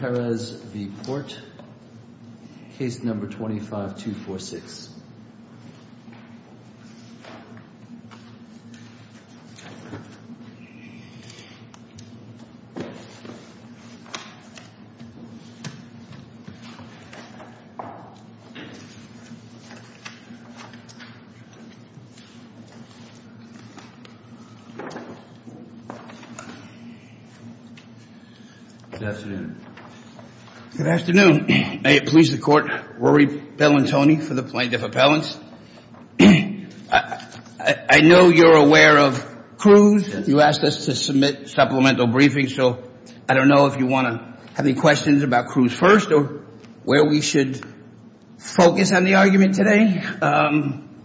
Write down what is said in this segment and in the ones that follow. Perez v. Porte, case number 25246. Good afternoon. Good afternoon. May it please the court, Rory Pelantoni for the plaintiff appellants. I know you're aware of Cruz. You asked us to submit supplemental briefings, so I don't know if you want to have any questions about Cruz first or where we should focus on the argument today,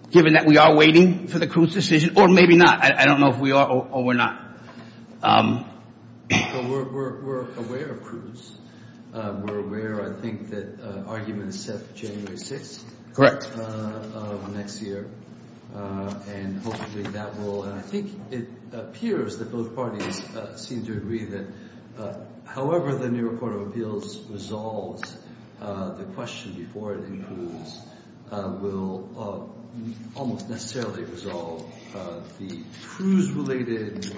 given that we are waiting for the Cruz decision, or maybe not. I don't know if we are or we're not. We're aware of Cruz. We're aware, I think, that argument is set for January 6th of next year. And hopefully that will, and I think it appears that both parties seem to agree that however the New York Court of Appeals resolves the question before it in Cruz will almost necessarily resolve the Cruz-related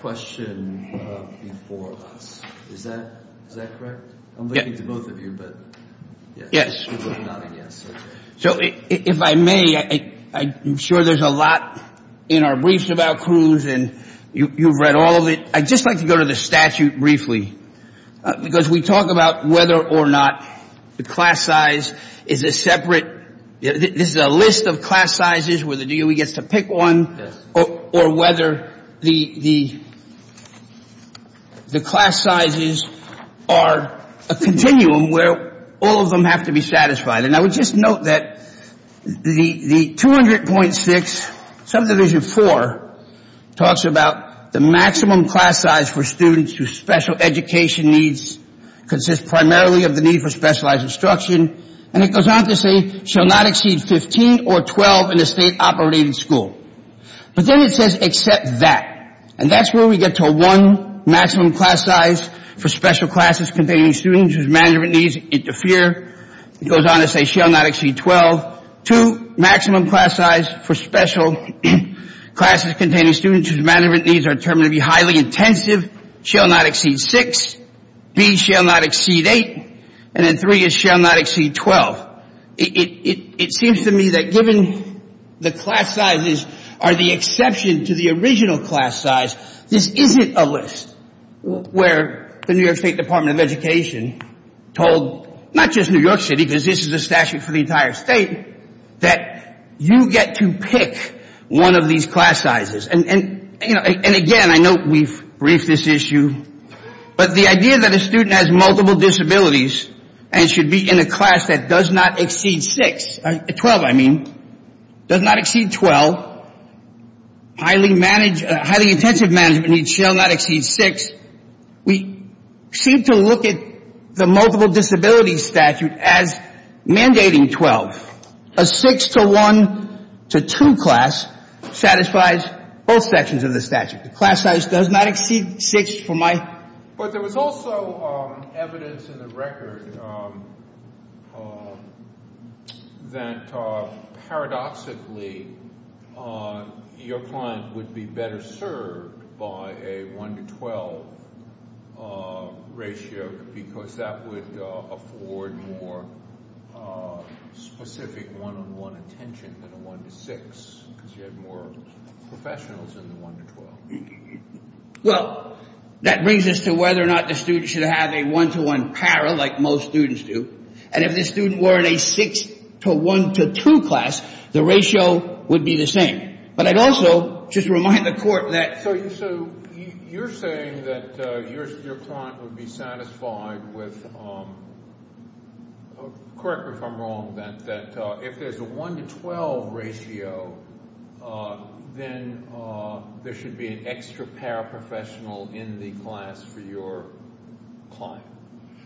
question before us. Is that correct? I'm looking to both of you, but yes. So if I may, I'm sure there's a lot in our briefs about Cruz, and you've read all of it. I'd just like to go to the statute briefly, because we talk about whether or not the class size is a separate, this is a list of class sizes where the DOE gets to pick one, or whether the class sizes are a continuum where all of them have to be satisfied. And I would just note that the 200.6, subdivision 4, talks about the maximum class size for students whose special education needs consist primarily of the need for specialized instruction, and it goes on to say shall not exceed 15 or 12 in a state-operated school. But then it says except that. And that's where we get to one maximum class size for special classes containing students whose management needs interfere. It goes on to say shall not exceed 12. Two, maximum class size for special classes containing students whose management needs are determined to be highly intensive, shall not exceed 6. B, shall not exceed 8. And then 3 is shall not exceed 12. It seems to me that given the class sizes are the exception to the original class size, this isn't a list where the New York State Department of Education told not just New York City, because this is a statute for the entire state, that you get to pick one of these class sizes. And again, I know we've briefed this issue, but the idea that a student has multiple disabilities and should be in a class that does not exceed 6, 12 I mean, does not exceed 12, highly intensive management needs shall not exceed 6. We seem to look at the multiple disability statute as mandating 12. A 6 to 1 to 2 class satisfies both sections of the statute. The class size does not exceed 6 for my... But there was also evidence in the record that paradoxically your client would be better served by a 1 to 12 ratio because that would afford more specific one-on-one attention than a 1 to 6 because you had more professionals in the 1 to 12. Well, that brings us to whether or not the student should have a 1 to 1 para like most students do. And if the student were in a 6 to 1 to 2 class, the ratio would be the same. But I'd also just remind the court that... So you're saying that your client would be satisfied with... Correct me if I'm wrong, that if there's a 1 to 12 ratio, then there should be an extra paraprofessional in the class for your client.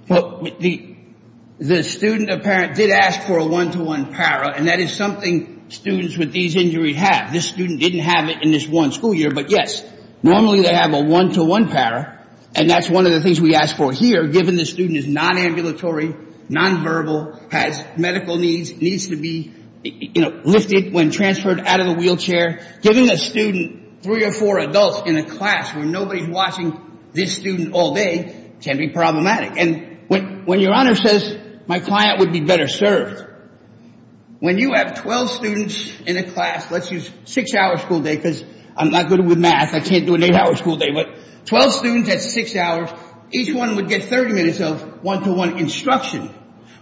Well, the student apparent did ask for a 1 to 1 para, and that is something students with these injuries have. This student didn't have it in this one school year. But yes, normally they have a 1 to 1 para, and that's one of the things we ask for here given the student is non-ambulatory, non-verbal, has medical needs, needs to be lifted when transferred out of the wheelchair. Giving a student 3 or 4 adults in a class where nobody's watching this student all day can be problematic. And when your Honor says my client would be better served, when you have 12 students in a class, let's use 6-hour school day because I'm not good with math. I can't do an 8-hour school day. But 12 students at 6 hours, each one would get 30 minutes of 1 to 1 instruction.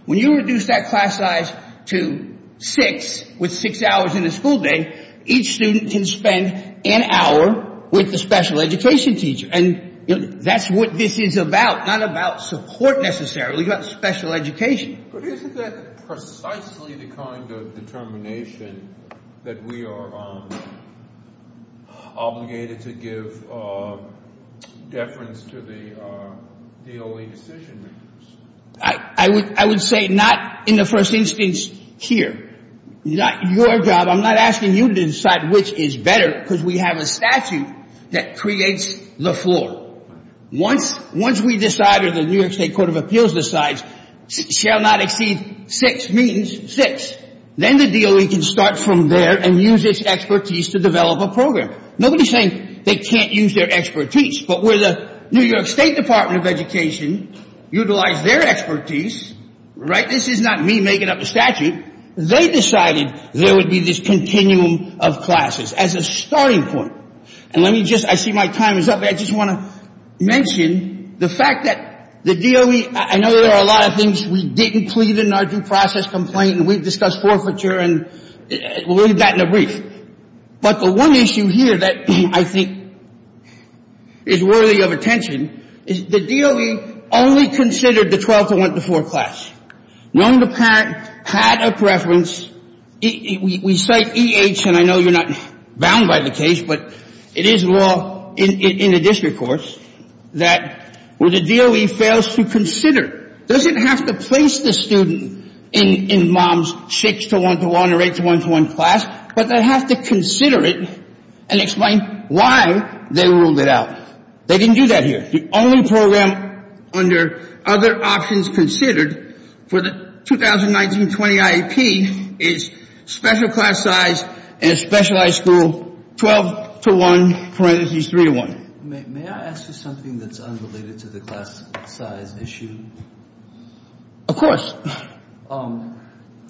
When you reduce that class size to 6 with 6 hours in a school day, each student can spend an hour with the special education teacher. And that's what this is about, not about support necessarily, but special education. But isn't that precisely the kind of determination that we are obligated to give deference to the DOE decision makers? I would say not in the first instance here. Your job, I'm not asking you to decide which is better because we have a statute that creates the floor. Once we decide or the New York State Court of Appeals decides shall not exceed 6 means 6. Then the DOE can start from there and use its expertise to develop a program. Nobody's saying they can't use their expertise. But where the New York State Department of Education utilized their expertise, right? This is not me making up a statute. They decided there would be this continuum of classes as a starting point. And let me just, I see my time is up. I just want to mention the fact that the DOE, I know there are a lot of things we didn't plead in our due process complaint and we've discussed forfeiture and we'll leave that in a brief. But the one issue here that I think is worthy of attention is the DOE only considered the 12 to 1 to 4 class. When the parent had a preference, we cite EH and I know you're not bound by the case, but it is law in the district courts that where the DOE fails to consider, doesn't have to place the student in mom's 6 to 1 to 1 or 8 to 1 to 1 class, but they have to consider it and explain why they ruled it out. They didn't do that here. The only program under other options considered for the 2019-20 IEP is special class size and specialized school 12 to 1 parentheses 3 to 1. May I ask you something that's unrelated to the class size issue? Of course.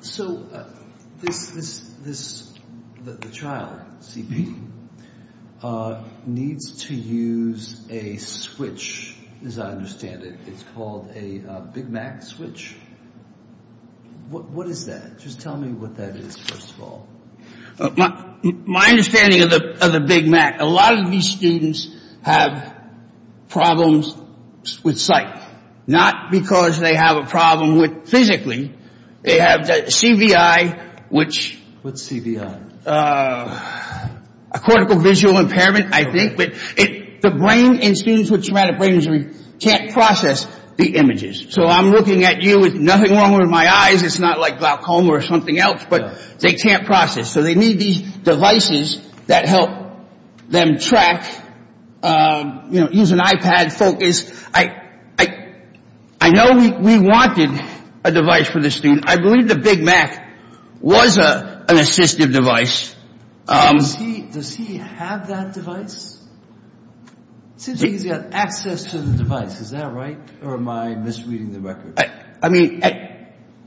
So this, the child CP needs to use a switch, as I understand it. It's called a Big Mac switch. What is that? Just tell me what that is, first of all. My understanding of the Big Mac, a lot of these students have problems with sight, not because they have a problem with physically. They have CVI, which- What's CVI? Cortical visual impairment, I think. But the brain in students with traumatic brain injury can't process the images. So I'm looking at you with nothing wrong with my eyes. It's not like glaucoma or something else, but they can't process. So they need these devices that help them track, you know, use an iPad, focus. I know we wanted a device for the student. I believe the Big Mac was an assistive device. Does he have that device? It seems like he's got access to the device. Is that right, or am I misreading the record? I mean,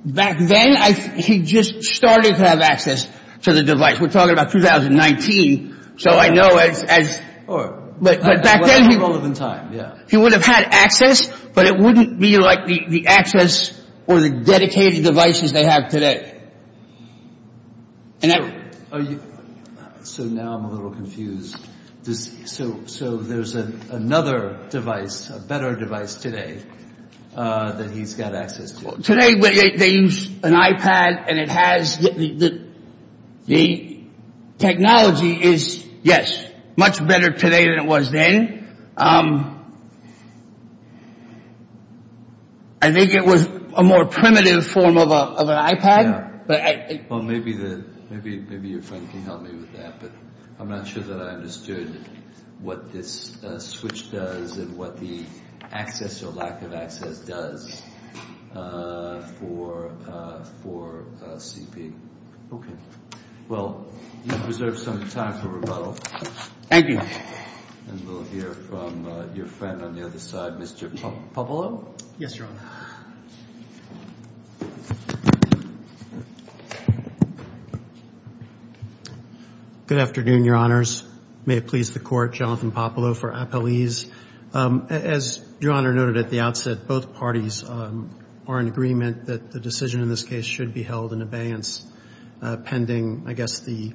back then he just started to have access to the device. We're talking about 2019. So I know as- But back then- It wasn't relevant in time, yeah. He would have had access, but it wouldn't be like the access or the dedicated devices they have today. So now I'm a little confused. So there's another device, a better device today that he's got access to. Today they use an iPad and it has the technology is, yes, much better today than it was then. I think it was a more primitive form of an iPad. Well, maybe your friend can help me with that, but I'm not sure that I understood what this switch does and what the access or lack of access does for CP. Okay. Well, you've preserved some time for rebuttal. Thank you. And we'll hear from your friend on the other side, Mr. Pappalo. Yes, Your Honor. Good afternoon, Your Honors. May it please the Court, Jonathan Pappalo for appellees. As Your Honor noted at the outset, both parties are in agreement that the decision in this case should be held in abeyance pending, I guess, the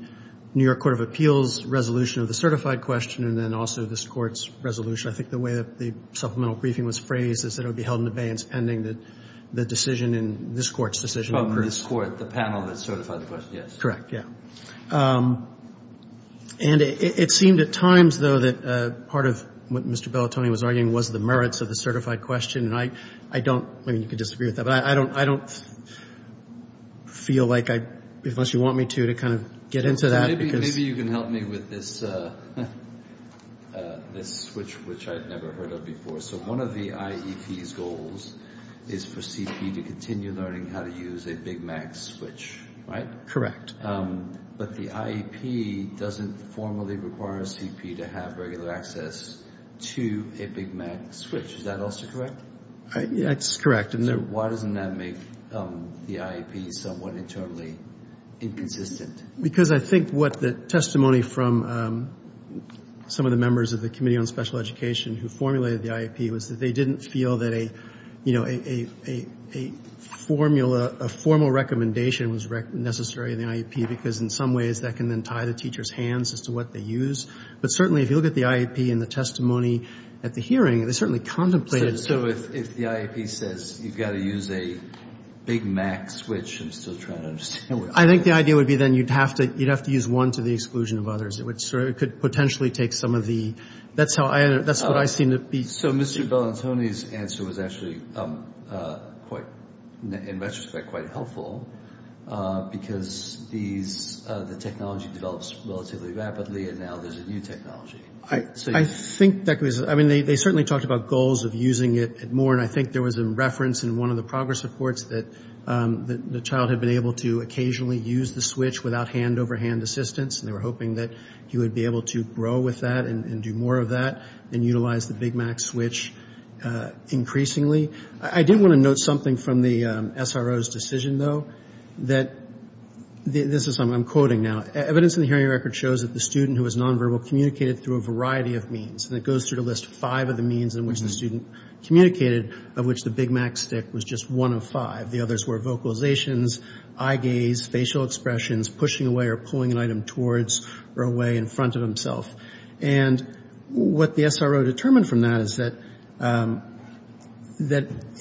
New York Court of Appeals resolution of the certified question and then also this Court's resolution. I think the way that the supplemental briefing was phrased is that it would be held in abeyance pending the decision in this Court's decision. Oh, this Court, the panel that certified the question, yes. Correct, yeah. And it seemed at times, though, that part of what Mr. Bellatoni was arguing was the merits of the certified question, and I don't, I mean, you can disagree with that, but I don't feel like I, unless you want me to, to kind of get into that. Maybe you can help me with this switch, which I've never heard of before. So one of the IEP's goals is for CP to continue learning how to use a Big Mac switch, right? Correct. But the IEP doesn't formally require CP to have regular access to a Big Mac switch. Is that also correct? That's correct. So why doesn't that make the IEP somewhat internally inconsistent? Because I think what the testimony from some of the members of the Committee on Special Education who formulated the IEP was that they didn't feel that a, you know, a formula, a formal recommendation was necessary in the IEP, because in some ways that can then tie the teacher's hands as to what they use. But certainly if you look at the IEP in the testimony at the hearing, they certainly contemplated so. So if the IEP says you've got to use a Big Mac switch, I'm still trying to understand. I think the idea would be then you'd have to use one to the exclusion of others. It could potentially take some of the – that's what I seem to be seeing. So Mr. Bellantoni's answer was actually quite, in retrospect, quite helpful, because the technology develops relatively rapidly, and now there's a new technology. I think that was – I mean, they certainly talked about goals of using it more, and I think there was a reference in one of the progress reports that the child had been able to occasionally use the switch without hand-over-hand assistance, and they were hoping that he would be able to grow with that and do more of that and utilize the Big Mac switch increasingly. I did want to note something from the SRO's decision, though, that – this is something I'm quoting now. Evidence in the hearing record shows that the student who was nonverbal communicated through a variety of means, and it goes through the list of five of the means in which the student communicated, of which the Big Mac stick was just one of five. The others were vocalizations, eye gaze, facial expressions, pushing away or pulling an item towards or away in front of himself. And what the SRO determined from that is that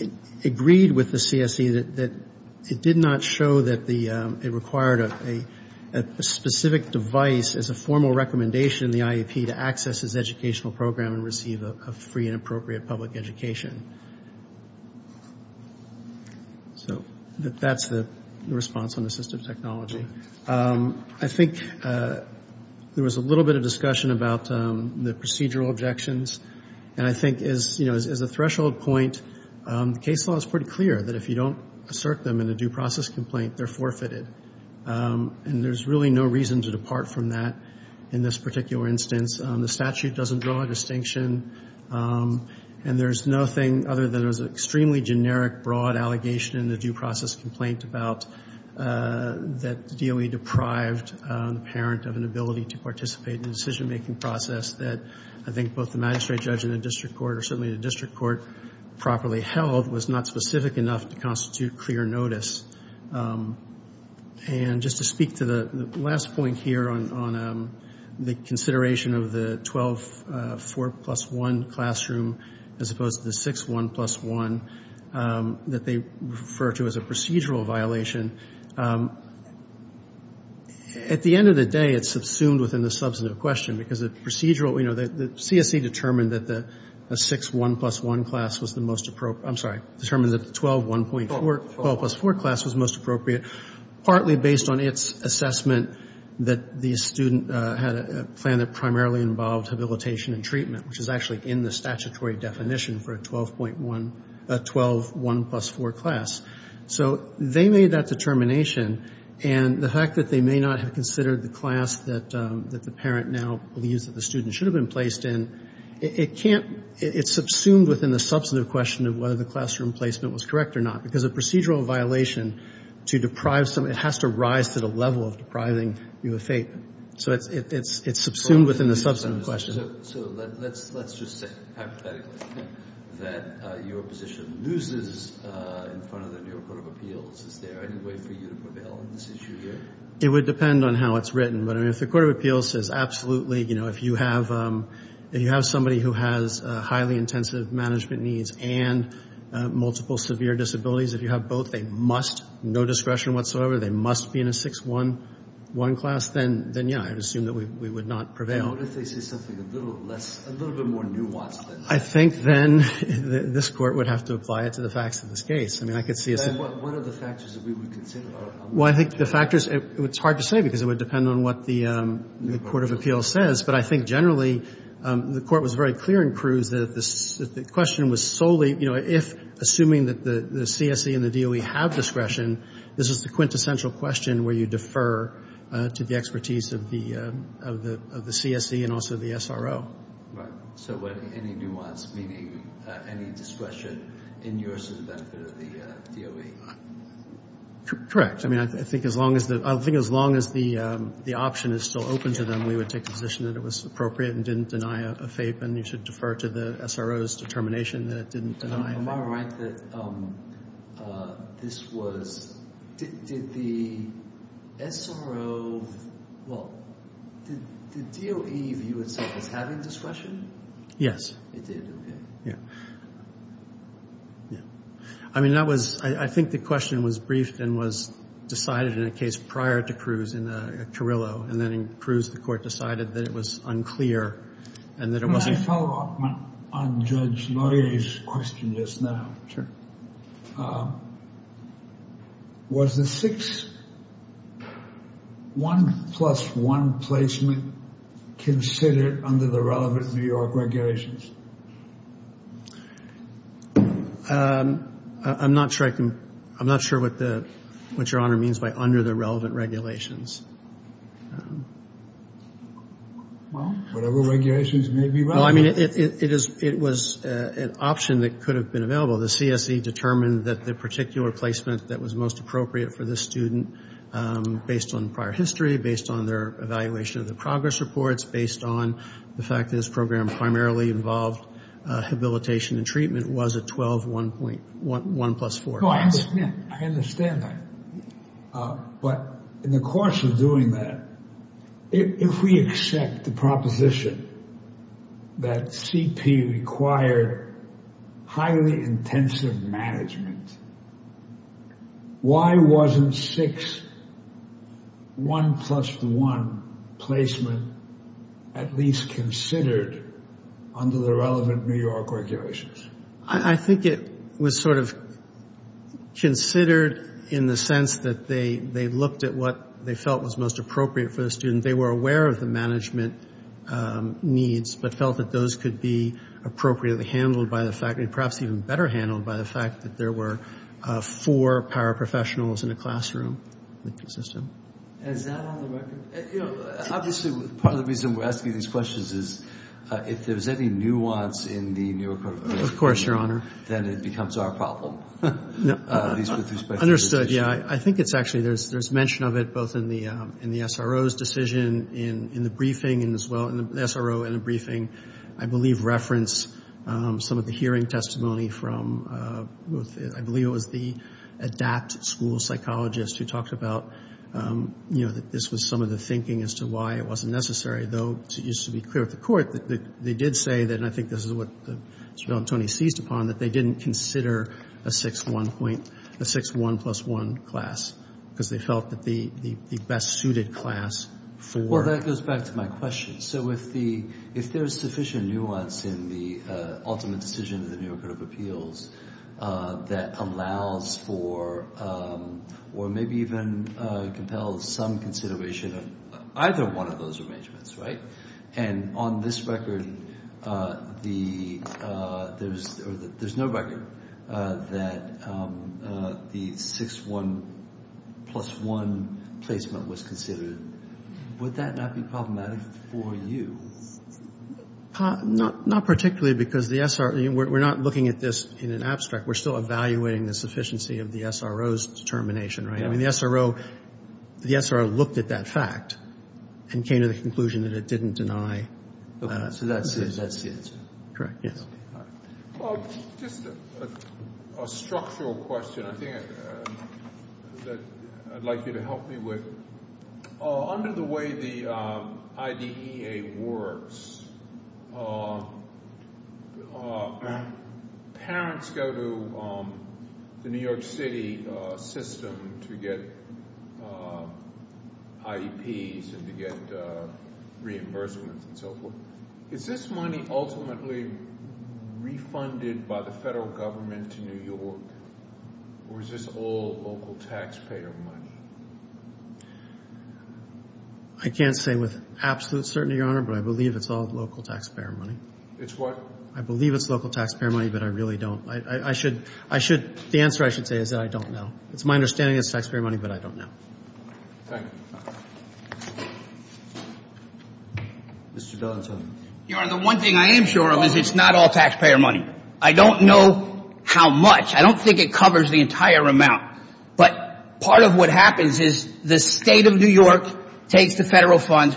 it agreed with the CSE that it did not show that it required a specific device as a formal recommendation in the IEP to access its educational program and receive a free and appropriate public education. So that's the response on assistive technology. I think there was a little bit of discussion about the procedural objections, and I think as a threshold point, the case law is pretty clear that if you don't assert them in a due process complaint, they're forfeited. And there's really no reason to depart from that in this particular instance. The statute doesn't draw a distinction. And there's nothing other than it was an extremely generic, broad allegation in the due process complaint about that DOE deprived the parent of an ability to participate in the decision-making process that I think both the magistrate judge and the district court, or certainly the district court, properly held was not specific enough to constitute clear notice. And just to speak to the last point here on the consideration of the 12, 4 plus 1 classroom as opposed to the 6, 1 plus 1 that they refer to as a procedural violation, at the end of the day it's subsumed within the substantive question because the procedural, you know, a 6, 1 plus 1 class was the most appropriate. I'm sorry, determined that the 12, 1 plus 4 class was most appropriate partly based on its assessment that the student had a plan that primarily involved habilitation and treatment, which is actually in the statutory definition for a 12, 1 plus 4 class. So they made that determination, and the fact that they may not have considered the class that the parent now believes that the student should have been placed in, it can't, it's subsumed within the substantive question of whether the classroom placement was correct or not because a procedural violation to deprive someone, it has to rise to the level of depriving you of fate. So it's subsumed within the substantive question. So let's just say hypothetically that your position loses in front of the New York Court of Appeals. Is there any way for you to prevail on this issue here? It would depend on how it's written. But, I mean, if the Court of Appeals says absolutely, you know, if you have somebody who has highly intensive management needs and multiple severe disabilities, if you have both, they must, no discretion whatsoever, they must be in a 6, 1 class, then, yeah, I would assume that we would not prevail. What if they say something a little less, a little bit more nuanced than that? I think then this Court would have to apply it to the facts of this case. I mean, I could see it. Then what are the factors that we would consider? Well, I think the factors, it's hard to say because it would depend on what the Court of Appeals says. But I think generally the Court was very clear in Cruz that the question was solely, you know, if assuming that the CSE and the DOE have discretion, this is the quintessential question where you defer to the expertise of the CSE and also the SRO. Right. So any nuance, meaning any discretion in yours to the benefit of the DOE? Correct. I mean, I think as long as the option is still open to them, we would take the position that it was appropriate and didn't deny a FAPE and you should defer to the SRO's determination that it didn't deny a FAPE. Am I right that this was, did the SRO, well, did DOE view itself as having discretion? Yes. It did, okay. I mean, that was, I think the question was briefed and was decided in a case prior to Cruz in Carrillo and then in Cruz the Court decided that it was unclear and that it wasn't. Can I follow up on Judge Laurier's question just now? Sure. Was the six, one plus one placement considered under the relevant New York regulations? I'm not sure I can, I'm not sure what the, what Your Honor means by under the relevant regulations. Well, whatever regulations may be relevant. Well, I mean, it is, it was an option that could have been available. The CSE determined that the particular placement that was most appropriate for this student, based on prior history, based on their evaluation of the progress reports, based on the fact that this program primarily involved habilitation and treatment, was a 12, one plus four. I understand that. But in the course of doing that, if we accept the proposition that CP required highly intensive management, why wasn't six, one plus one placement at least considered under the relevant New York regulations? I think it was sort of considered in the sense that they looked at what they felt was most appropriate for the student. They were aware of the management needs but felt that those could be appropriately handled by the faculty, and perhaps even better handled by the fact that there were four paraprofessionals in a classroom. Is that on the record? Obviously, part of the reason we're asking these questions is if there's any nuance in the New York regulations, then it becomes our problem. Understood, yeah. I think it's actually, there's mention of it both in the SRO's decision, in the briefing, and as well, the SRO in the briefing, I believe, referenced some of the hearing testimony from, I believe it was the ADAPT school psychologist who talked about, you know, that this was some of the thinking as to why it wasn't necessary. Though, it used to be clear at the court that they did say that, and I think this is what Mr. Bellantoni seized upon, that they didn't consider a six, one plus one class, because they felt that the best suited class for. Well, that goes back to my question. So, if there's sufficient nuance in the ultimate decision of the New York Court of Appeals that allows for, or maybe even compels some consideration of either one of those arrangements, right, and on this record, there's no record that the six, one plus one placement was considered, would that not be problematic for you? Not particularly, because the SRO, we're not looking at this in an abstract. We're still evaluating the sufficiency of the SRO's determination, right? I mean, the SRO looked at that fact and came to the conclusion that it didn't deny. So that's the answer. Correct, yes. Just a structural question I think that I'd like you to help me with. Under the way the IDEA works, parents go to the New York City system to get IEPs and to get reimbursements and so forth. Is this money ultimately refunded by the federal government to New York, or is this all local taxpayer money? I can't say with absolute certainty, Your Honor, but I believe it's all local taxpayer money. It's what? I believe it's local taxpayer money, but I really don't. The answer I should say is that I don't know. It's my understanding it's taxpayer money, but I don't know. Thank you. Mr. Donatello. Your Honor, the one thing I am sure of is it's not all taxpayer money. I don't know how much. I don't think it covers the entire amount. But part of what happens is the state of New York takes the federal funds,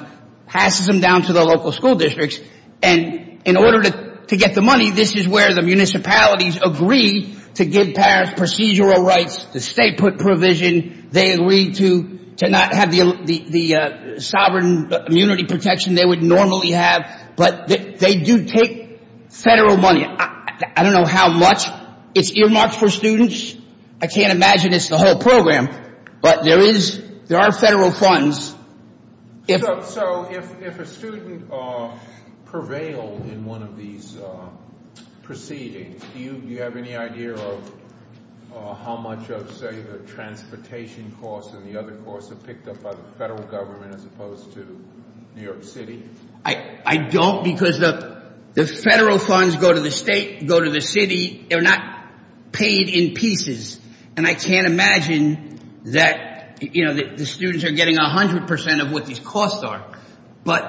passes them down to the local school districts, and in order to get the money, this is where the municipalities agree to give parents procedural rights, the state put provision, they agreed to not have the sovereign immunity protection they would normally have, but they do take federal money. I don't know how much. It's earmarks for students. I can't imagine it's the whole program, but there are federal funds. So if a student prevailed in one of these proceedings, do you have any idea of how much of, say, the transportation costs and the other costs are picked up by the federal government as opposed to New York City? I don't because the federal funds go to the state, go to the city. They're not paid in pieces. And I can't imagine that the students are getting 100 percent of what these costs are. But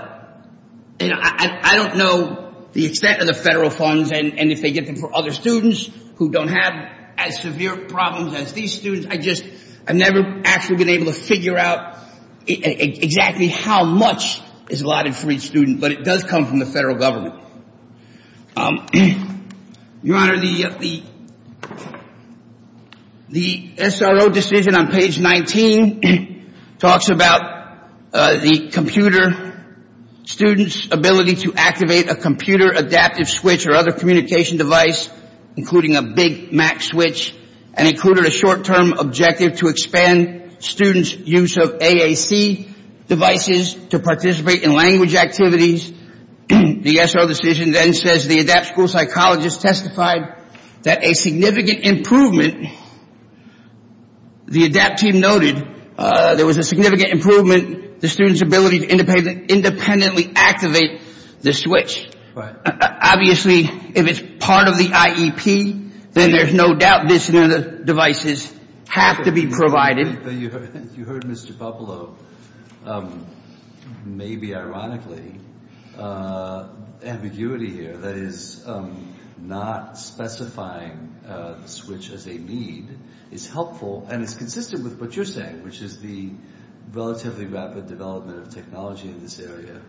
I don't know the extent of the federal funds and if they get them for other students who don't have as severe problems as these students. I've never actually been able to figure out exactly how much is allotted for each student, but it does come from the federal government. Your Honor, the SRO decision on page 19 talks about the computer students' ability to activate a computer adaptive switch or other communication device, including a Big Mac switch, and included a short-term objective to expand students' use of AAC devices to participate in language activities. The SRO decision then says the ADAPT school psychologist testified that a significant improvement, the ADAPT team noted there was a significant improvement in the student's ability to independently activate the switch. Obviously, if it's part of the IEP, then there's no doubt this and other devices have to be provided. You heard Mr. Pablo. Maybe ironically, ambiguity here that is not specifying the switch as a need is helpful. And it's consistent with what you're saying, which is the relatively rapid development of technology in this area,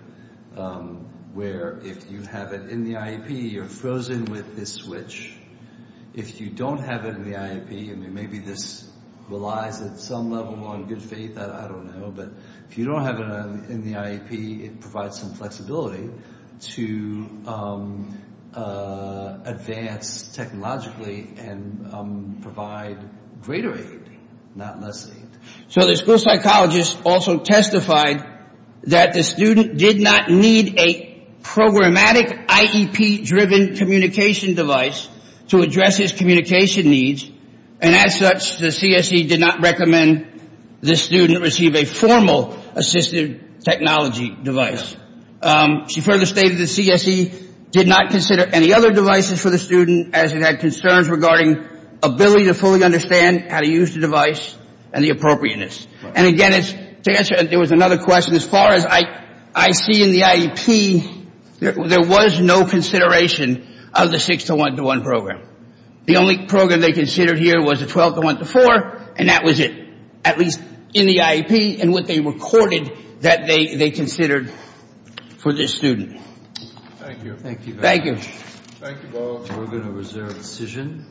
where if you have it in the IEP, you're frozen with this switch. If you don't have it in the IEP, and maybe this relies at some level on good faith, I don't know, but if you don't have it in the IEP, it provides some flexibility to advance technologically and provide greater aid, not less aid. So the school psychologist also testified that the student did not need a programmatic IEP-driven communication device to address his communication needs, and as such, the CSE did not recommend the student receive a formal assistive technology device. She further stated the CSE did not consider any other devices for the student, as it had concerns regarding ability to fully understand how to use the device and the appropriateness. And again, to answer, there was another question. As far as I see in the IEP, there was no consideration of the 6-1-1 program. The only program they considered here was the 12-1-4, and that was it, at least in the IEP and what they recorded that they considered for this student. Thank you. Thank you. Thank you. We're going to reserve a decision.